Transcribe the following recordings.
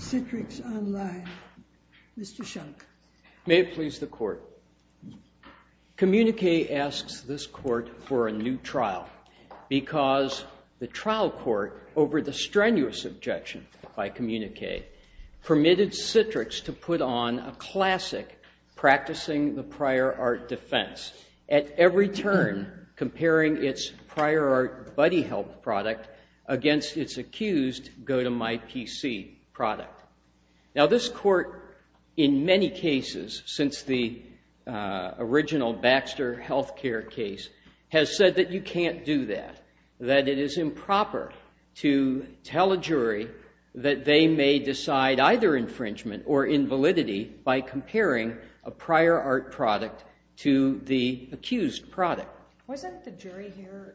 Citrix Online, LLC May it please the court. Communique asks this court for a new trial because the trial court, over the strenuous objection by Communique, permitted Citrix to put on a classic practicing the prior art defense, at every turn comparing its prior art buddy help product against its accused go-to-my-PC product. Now this court, in many cases since the original Baxter health care case, has said that you can't do that, that it is improper to tell a jury that they may decide either infringement or invalidity by comparing a prior art product to the accused product. Wasn't the jury here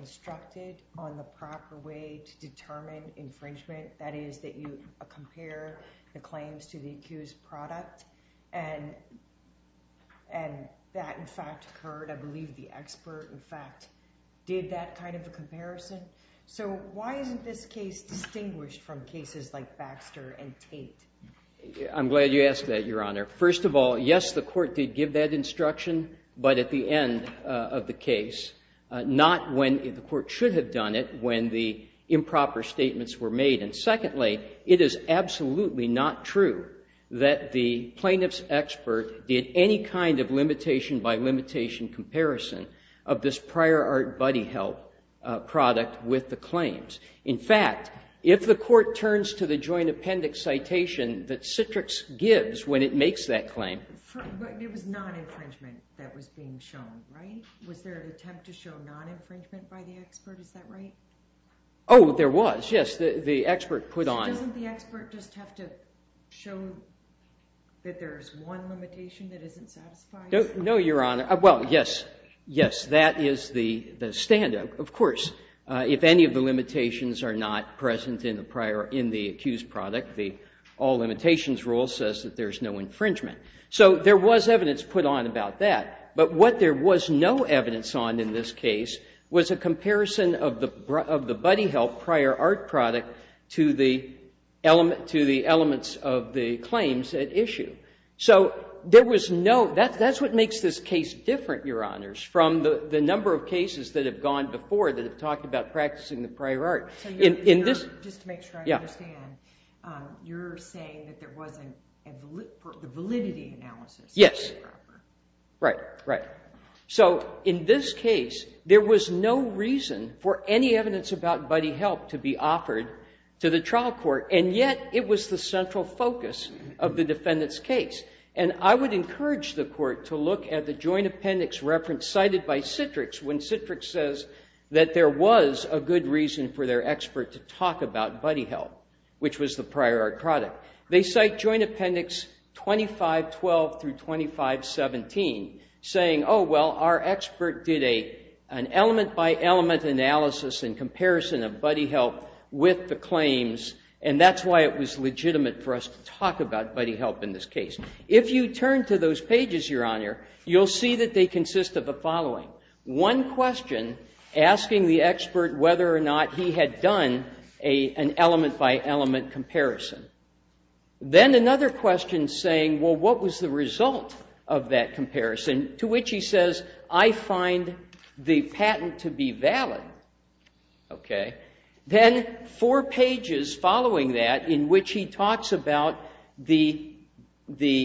instructed on the proper way to determine infringement, that is, that you compare the claims to the accused product? And that in fact occurred, I believe the expert in fact did that kind of a comparison. So why isn't this case distinguished from cases like Baxter and Tate? I'm glad you asked that, Your Honor. First of all, yes, the court did give that instruction, but at the end of the case, not when the court should have when the improper statements were made. And secondly, it is absolutely not true that the plaintiff's expert did any kind of limitation by limitation comparison of this prior art buddy help product with the claims. In fact, if the court turns to the joint appendix citation that Oh, there was. Yes, the expert put on. Doesn't the expert just have to show that there's one limitation that isn't satisfied? No, Your Honor. Well, yes, yes, that is the standout. Of course, if any of the limitations are not present in the prior, in the accused product, the all limitations rule says that there's no infringement. So there was evidence put on about that. But what there was no evidence on in this case was a comparison of the buddy help prior art product to the element to the elements of the claims at issue. So there was no. That's what makes this case different, Your Honors, from the number of cases that have gone before that have talked about practicing the prior art in this. Just to make sure I understand, you're saying that there wasn't a validity analysis. Yes. Right, right. So in this case, there was no reason for any evidence about buddy help to be offered to the trial court. And yet, it was the central focus of the defendant's case. And I would encourage the court to look at the joint appendix reference cited by Citrix when Citrix says that there was a good reason for their expert to talk about buddy help, which was the prior art product. They cite joint appendix 2512 through 2517, saying, oh, well, our expert did an element by element analysis in comparison of buddy help with the claims, and that's why it was legitimate for us to talk about buddy help in this case. If you turn to those pages, Your Honor, you'll see that they consist of the done an element by element comparison. Then another question saying, well, what was the result of that comparison, to which he says, I find the patent to be valid. Then four pages following that in which he talks about the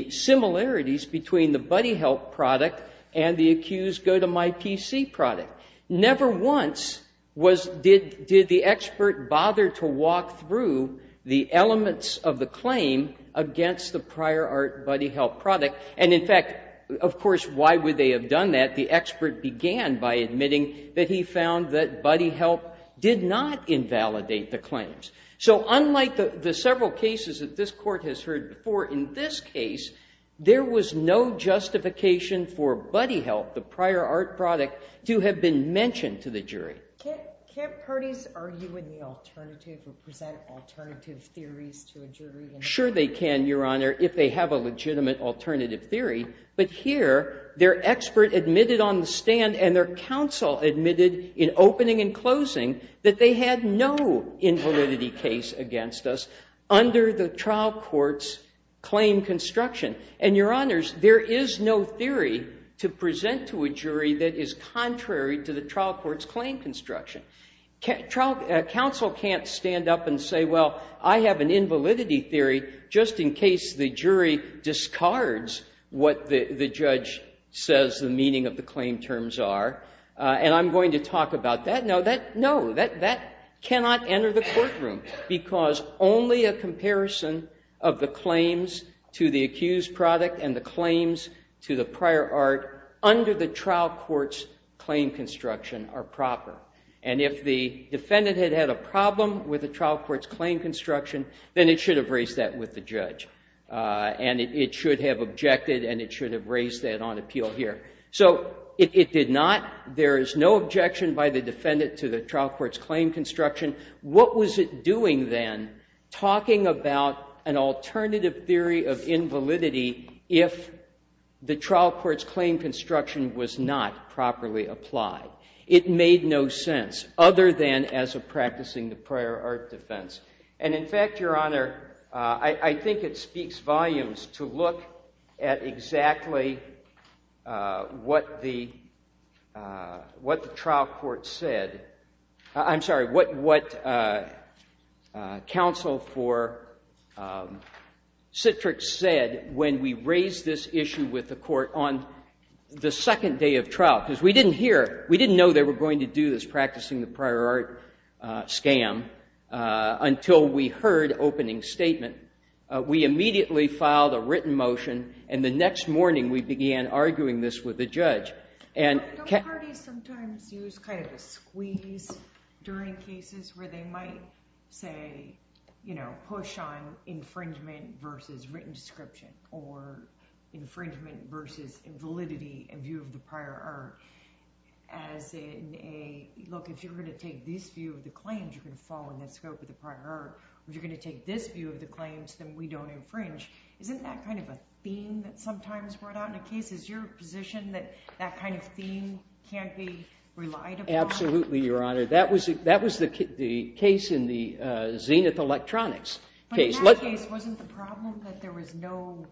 similarities between the buddy help product and the accused go-to-my-PC product. Never once did the expert bother to walk through the elements of the claim against the prior art buddy help product. And in fact, of course, why would they have done that? The expert began by admitting that he found that buddy help did not invalidate the claims. So unlike the several cases that this Court has heard before, in this for buddy help, the prior art product, to have been mentioned to the jury. Can't parties argue in the alternative or present alternative theories to a jury? Sure they can, Your Honor, if they have a legitimate alternative theory. But here, their expert admitted on the stand and their counsel admitted in opening and closing that they had no invalidity case against us under the trial court's claim construction. And, Your Honors, there is no theory to present to a jury that is contrary to the trial court's claim construction. Counsel can't stand up and say, well, I have an invalidity theory just in case the jury discards what the judge says the meaning of the claim terms are, and I'm going to talk about that. No, that cannot enter the courtroom because only a comparison of the claims to the accused product and the claims to the prior art under the trial court's claim construction are proper. And if the defendant had had a problem with the trial court's claim construction, then it should have raised that with the judge. And it should have objected, and it should have raised that on appeal here. So it did not. There is no objection by the an alternative theory of invalidity if the trial court's claim construction was not properly applied. It made no sense, other than as a practicing the prior art defense. And in fact, Your Honor, I think it speaks volumes to look at exactly what the trial court said. I'm sorry, what counsel for Citrix said when we raised this issue with the court on the second day of trial, because we didn't hear, we didn't know they were going to do this practicing the prior art scam until we heard opening statement. We immediately filed a written motion, and the during cases where they might say, you know, push on infringement versus written description, or infringement versus invalidity and view of the prior art as in a, look, if you're going to take this view of the claims, you're going to fall in the scope of the prior art. If you're going to take this view of the claims, then we don't infringe. Isn't that kind of a theme that sometimes brought out in a case? Is your position that that kind of theme can't be relied upon? Absolutely, Your Honor. That was the case in the Zenith Electronics case. But in that case, wasn't the problem that there was no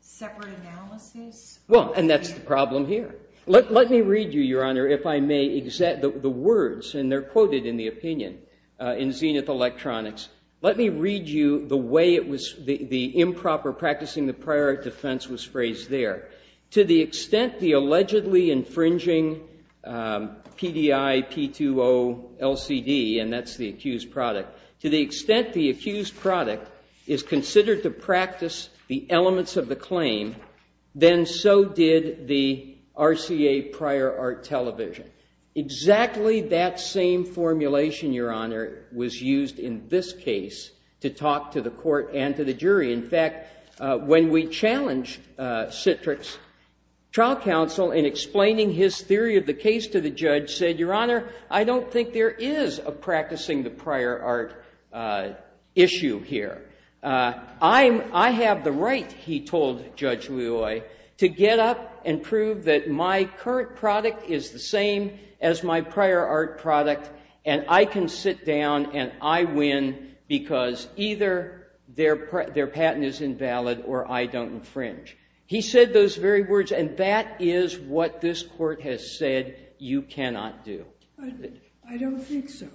separate analysis? Well, and that's the problem here. Let me read you, Your Honor, if I may, the words, and they're quoted in the opinion in Zenith Electronics. Let me read you the way it was, the improper practicing the prior art defense was phrased there. To the extent the allegedly infringing PDI P2O LCD, and that's the accused product, to the extent the accused product is considered to practice the elements of the claim, then so did the RCA prior art television. Exactly that same formulation, Your Honor, was used in this case to talk to the court and to jury. In fact, when we challenged Citrix trial counsel in explaining his theory of the case to the judge, said, Your Honor, I don't think there is a practicing the prior art issue here. I have the right, he told Judge Loy, to get up and prove that my current product is the same as my prior product, and I can sit down and I win because either their patent is invalid or I don't infringe. He said those very words, and that is what this court has said you cannot do. I don't think so.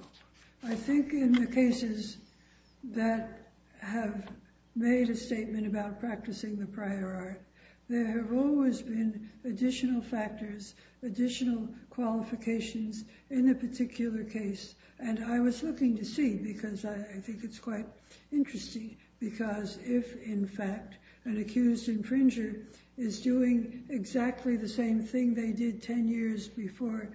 I think in the cases that have made a statement about practicing the prior art, there have always been additional factors, additional qualifications in a particular case, and I was looking to see because I think it's quite interesting because if, in fact, an accused infringer is doing exactly the same thing they did 10 years before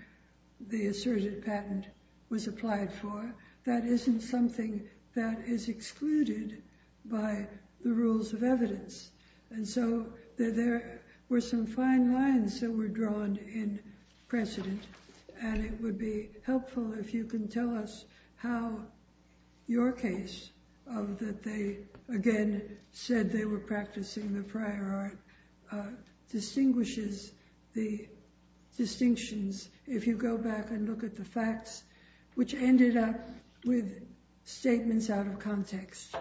the asserted patent was applied for, that isn't something that is excluded by the rules of evidence. And so there were some fine lines that were drawn in precedent, and it would be helpful if you can tell us how your case of that they again said they were practicing the prior art distinguishes the distinctions if you go back and look at the facts which ended up with statements out of context.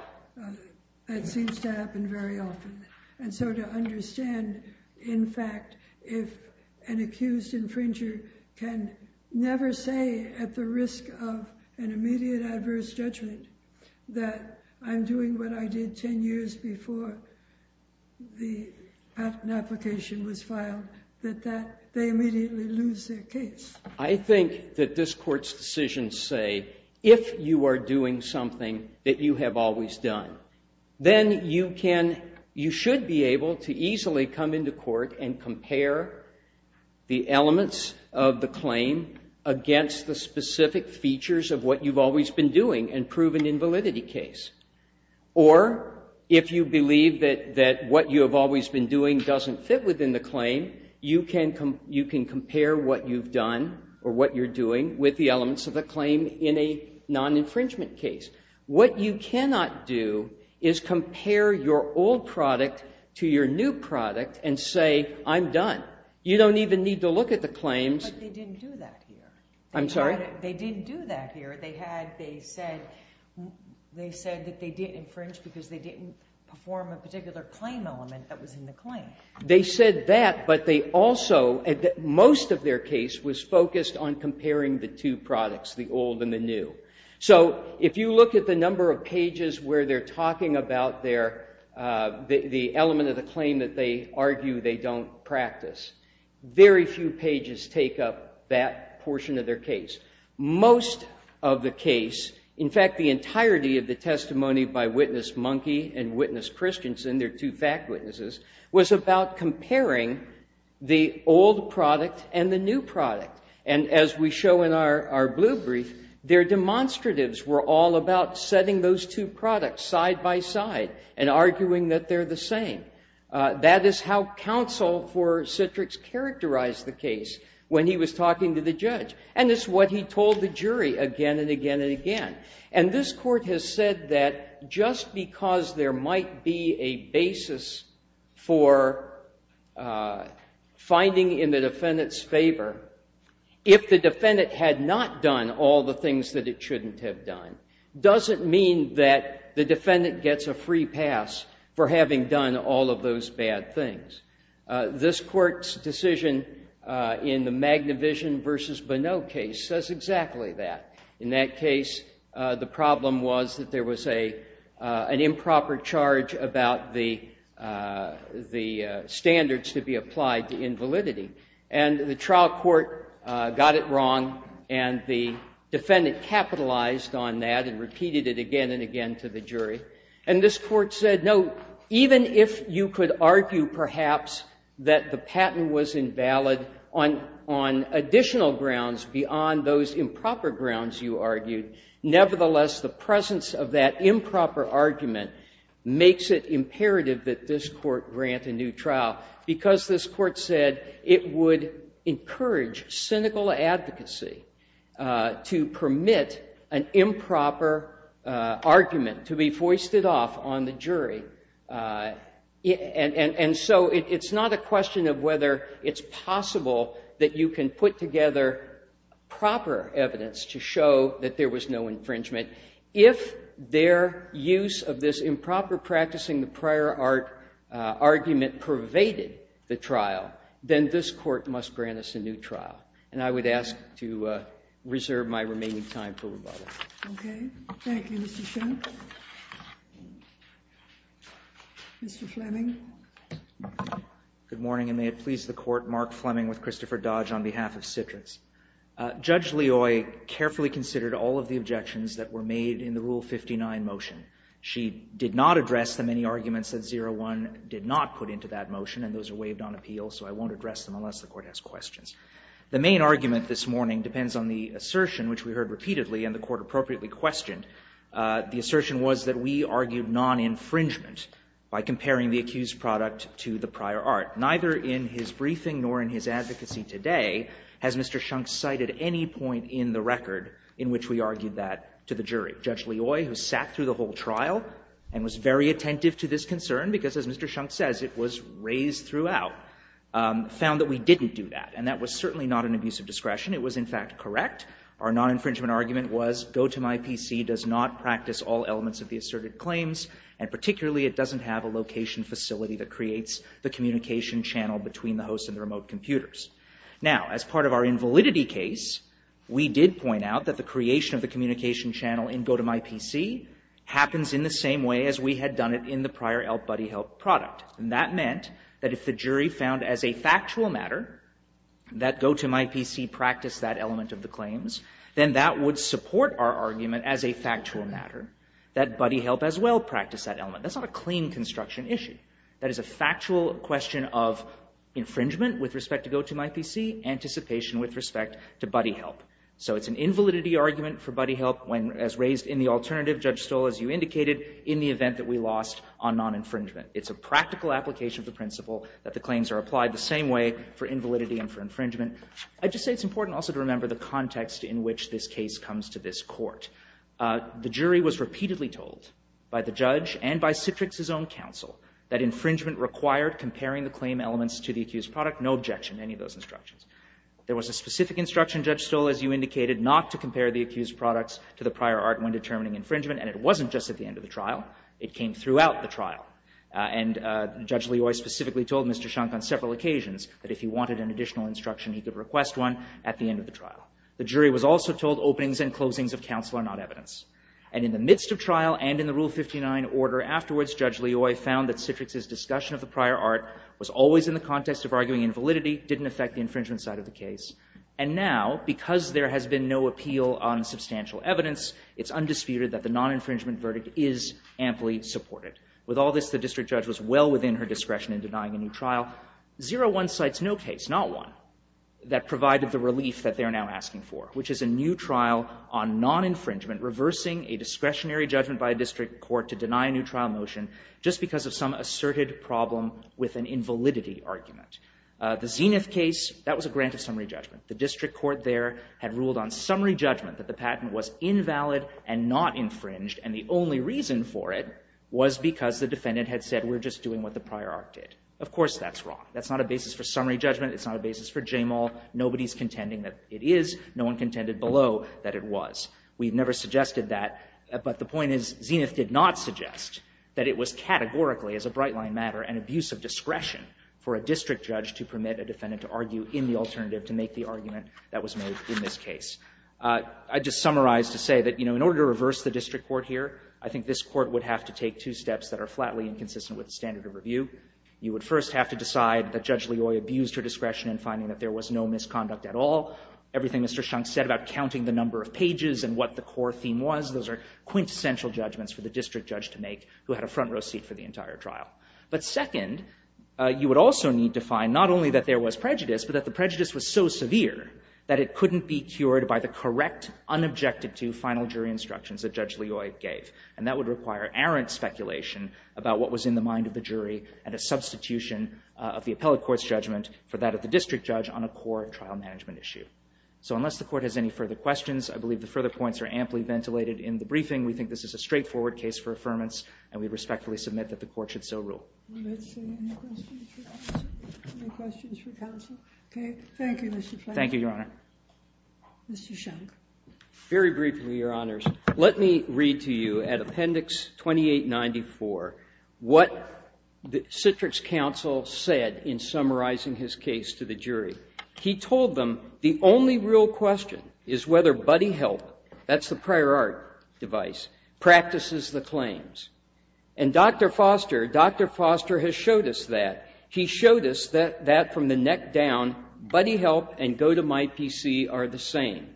That seems to happen very often. And so to understand, in fact, if an accused infringer can never say at the risk of an immediate adverse judgment that I'm doing what I did 10 years before the patent application was filed, that they immediately lose their case. I think that this court's decisions say if you are doing something that you have always done, then you should be able to easily come into court and compare the elements of the claim against the specific features of what you've always been doing and prove an invalidity case. Or if you believe that what you have always been doing doesn't fit within the claim, you can compare what you've done or what you're doing with the elements of the claim in a non-infringement case. What you cannot do is compare your old product to your new product and say, I'm done. You don't even need to look at the claims. But they didn't do that here. I'm sorry? They didn't do that here. They said that they didn't infringe because they didn't perform a particular claim element that was in the claim. They said that, but most of their case was focused on comparing the two products, the old and the new. So if you look at the number of pages where they're talking about the element of the claim that they argue they don't practice, very few pages take up that portion of their case. Most of the case, in fact, the entirety of the testimony by Witness Monkey and Witness Christensen, they're two fact witnesses, was about comparing the old product and the new product. And as we show in our blue brief, their demonstratives were all about setting those two products side by side and arguing that they're the same. That is how counsel for Citrix characterized the case when he was talking to the judge. And it's what he told the jury again and again and again. And this Court has said that just because there might be a basis for finding in the defendant's favor, if the defendant had not done all the things that it shouldn't have done, doesn't mean that the defendant gets a free pass for having done all of those bad things. This Court's decision in the Magnavision v. Bonneau case says exactly that. In that case, the problem was that there was an improper charge about the standards to be applied to invalidity. And the trial court got it wrong, and the defendant capitalized on that and repeated it again and again to the jury. And this Court said, no, even if you could argue perhaps that the patent was invalid on additional grounds beyond those improper grounds you argued, nevertheless, the presence of that improper argument makes it imperative that this Court grant a new trial, because this Court said it would encourage cynical advocacy to permit an improper argument to be foisted off on the jury. And so it's not a question of whether it's possible that you can put together proper evidence to show that there was no infringement. If their use of this improper practicing the prior argument pervaded the trial, then this Court must grant us a new trial. And I would ask to reserve my remaining time for rebuttal. Okay. Thank you, Mr. Schimpp. Mr. Fleming? Good morning, and may it please the Court, Mark Fleming with Christopher Dodge on behalf of Citrix. Judge Leoy carefully considered all of the objections that were made in the Rule 159 motion. She did not address the many arguments that 01 did not put into that motion, and those are waived on appeal, so I won't address them unless the Court has questions. The main argument this morning depends on the assertion which we heard repeatedly and the Court appropriately questioned. The assertion was that we argued non-infringement by comparing the accused product to the prior art. Neither in his briefing nor in his advocacy today has Mr. Shunk cited any point in the record in which we argued that to the jury. Judge Leoy, who sat through the whole trial and was very attentive to this concern, because, as Mr. Shunk says, it was raised throughout, found that we didn't do that, and that was certainly not an abuse of discretion. It was, in fact, correct. Our non-infringement argument was, GoToMyPC does not practice all elements of the asserted claims, and particularly it doesn't have a location facility that creates the communication channel between the host and the remote computers. Now, as part of our invalidity case, we did point out that the communication channel in GoToMyPC happens in the same way as we had done it in the prior ELP BuddyHelp product. And that meant that if the jury found as a factual matter that GoToMyPC practiced that element of the claims, then that would support our argument as a factual matter that BuddyHelp as well practiced that element. That's not a claim construction issue. That is a factual question of infringement with respect to GoToMyPC, anticipation with respect to BuddyHelp. So it's an invalidity argument for BuddyHelp as raised in the alternative Judge Stoll, as you indicated, in the event that we lost on non-infringement. It's a practical application of the principle that the claims are applied the same way for invalidity and for infringement. I'd just say it's important also to remember the context in which this case comes to this Court. The jury was repeatedly told by the judge and by Citrix's own counsel that infringement required comparing the claim elements to the There was a specific instruction Judge Stoll, as you indicated, not to compare the accused products to the prior art when determining infringement. And it wasn't just at the end of the trial. It came throughout the trial. And Judge Leoy specifically told Mr. Schunk on several occasions that if he wanted an additional instruction, he could request one at the end of the trial. The jury was also told openings and closings of counsel are not evidence. And in the midst of trial and in the Rule 59 order afterwards, Judge Leoy found that Citrix's discussion of the prior art was always in the context of arguing invalidity didn't affect the infringement side of the case. And now, because there has been no appeal on substantial evidence, it's undisputed that the non-infringement verdict is amply supported. With all this, the district judge was well within her discretion in denying a new trial. 0-1 cites no case, not one, that provided the relief that they are now asking for, which is a new trial on non-infringement reversing a discretionary judgment by a district court to deny a new trial motion just because of some asserted problem with an invalidity argument. The Zenith case, that was a grant of summary judgment. The district court there had ruled on summary judgment that the patent was invalid and not infringed, and the only reason for it was because the defendant had said, we're just doing what the prior art did. Of course that's wrong. That's not a basis for summary judgment. It's not a basis for JMAL. Nobody's contending that it is. No one contended below that it was. We've never suggested that. But the point is, an abuse of discretion for a district judge to permit a defendant to argue in the alternative to make the argument that was made in this case. I'd just summarize to say that in order to reverse the district court here, I think this court would have to take two steps that are flatly inconsistent with the standard of review. You would first have to decide that Judge Leoy abused her discretion in finding that there was no misconduct at all. Everything Mr. Shunk said about counting the number of pages and what the core theme was, those are quintessential judgments for the district judge to make who had a front row seat for the entire trial. But second, you would also need to find not only that there was prejudice, but that the prejudice was so severe that it couldn't be cured by the correct, unobjected to final jury instructions that Judge Leoy gave. And that would require errant speculation about what was in the mind of the jury and a substitution of the appellate court's judgment for that of the district judge on a core trial management issue. So unless the court has any further questions, I believe the further points are amply ventilated in the briefing. We think this is a straightforward case for affirmance, and we respectfully submit that the court should so rule. Any questions for counsel? Okay. Thank you, Mr. Fleming. Thank you, Your Honor. Mr. Shunk. Very briefly, Your Honors. Let me read to you at Appendix 2894 what the Citrix counsel said in summarizing his case to the jury. He told them the only real question is whether BuddyHelp, that's the prior art device, practices the claims. And Dr. Foster, Dr. Foster has showed us that. He showed us that from the neck down, BuddyHelp and GoToMyPC are the same.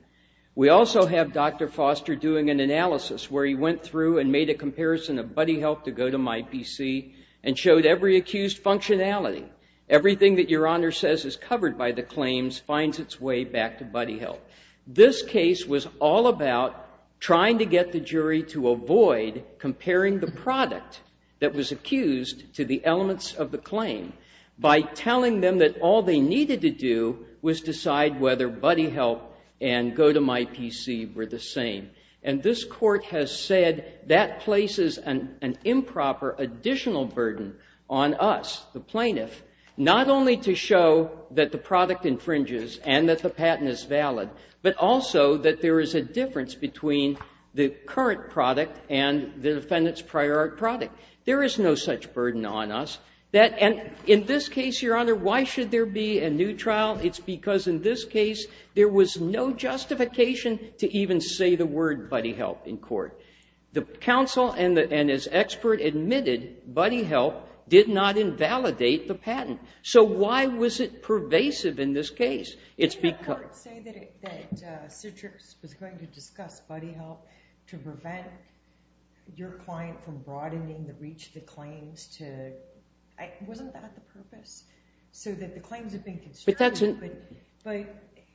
We also have Dr. Foster doing an analysis where he went through and made a comparison of BuddyHelp to GoToMyPC and showed every accused functionality. Everything that Your Honor says is covered by the claims finds its way back to BuddyHelp. This case was all about trying to get the jury to avoid comparing the product that was accused to the elements of the claim by telling them that all they needed to do was decide whether BuddyHelp and GoToMyPC were the same. And this court has said that places an improper additional burden on us, the plaintiff, not only to show that the product infringes and that the patent is valid, but also that there is a difference between the current product and the defendant's prior art product. There is no such burden on us. And in this case, Your Honor, why should there be a new trial? It's because in this case there was no justification to even say the word BuddyHelp in court. The counsel and his expert admitted BuddyHelp did not invalidate the patent. So why was it pervasive in this case? Didn't the court say that Citrix was going to discuss BuddyHelp to prevent your client from broadening the reach of the claims? Wasn't that the purpose? So that the claims have been constructed?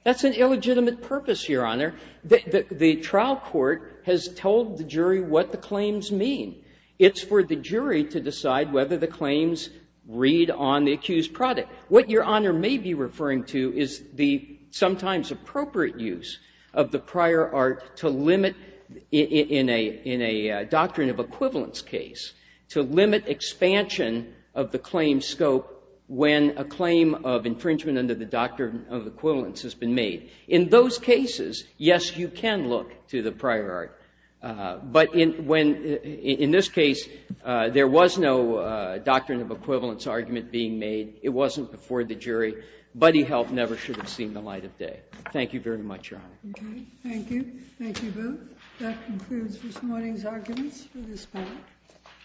That's an illegitimate purpose, Your Honor. The trial court has told the jury what the claims mean. It's for the jury to decide whether the claims read on the accused product. What Your Honor may be referring to is the sometimes appropriate use of the prior art to limit, in a doctrine of equivalence case, to limit expansion of the claim scope when a claim of infringement under the doctrine of equivalence has been made. In those cases, yes, you can look to the prior art. But when, in this case, there was no doctrine of equivalence argument being made. It wasn't before the jury. BuddyHelp never should have seen the light of day. Thank you very much, Your Honor. Thank you. Thank you, Booth. That concludes this morning's arguments for this panel.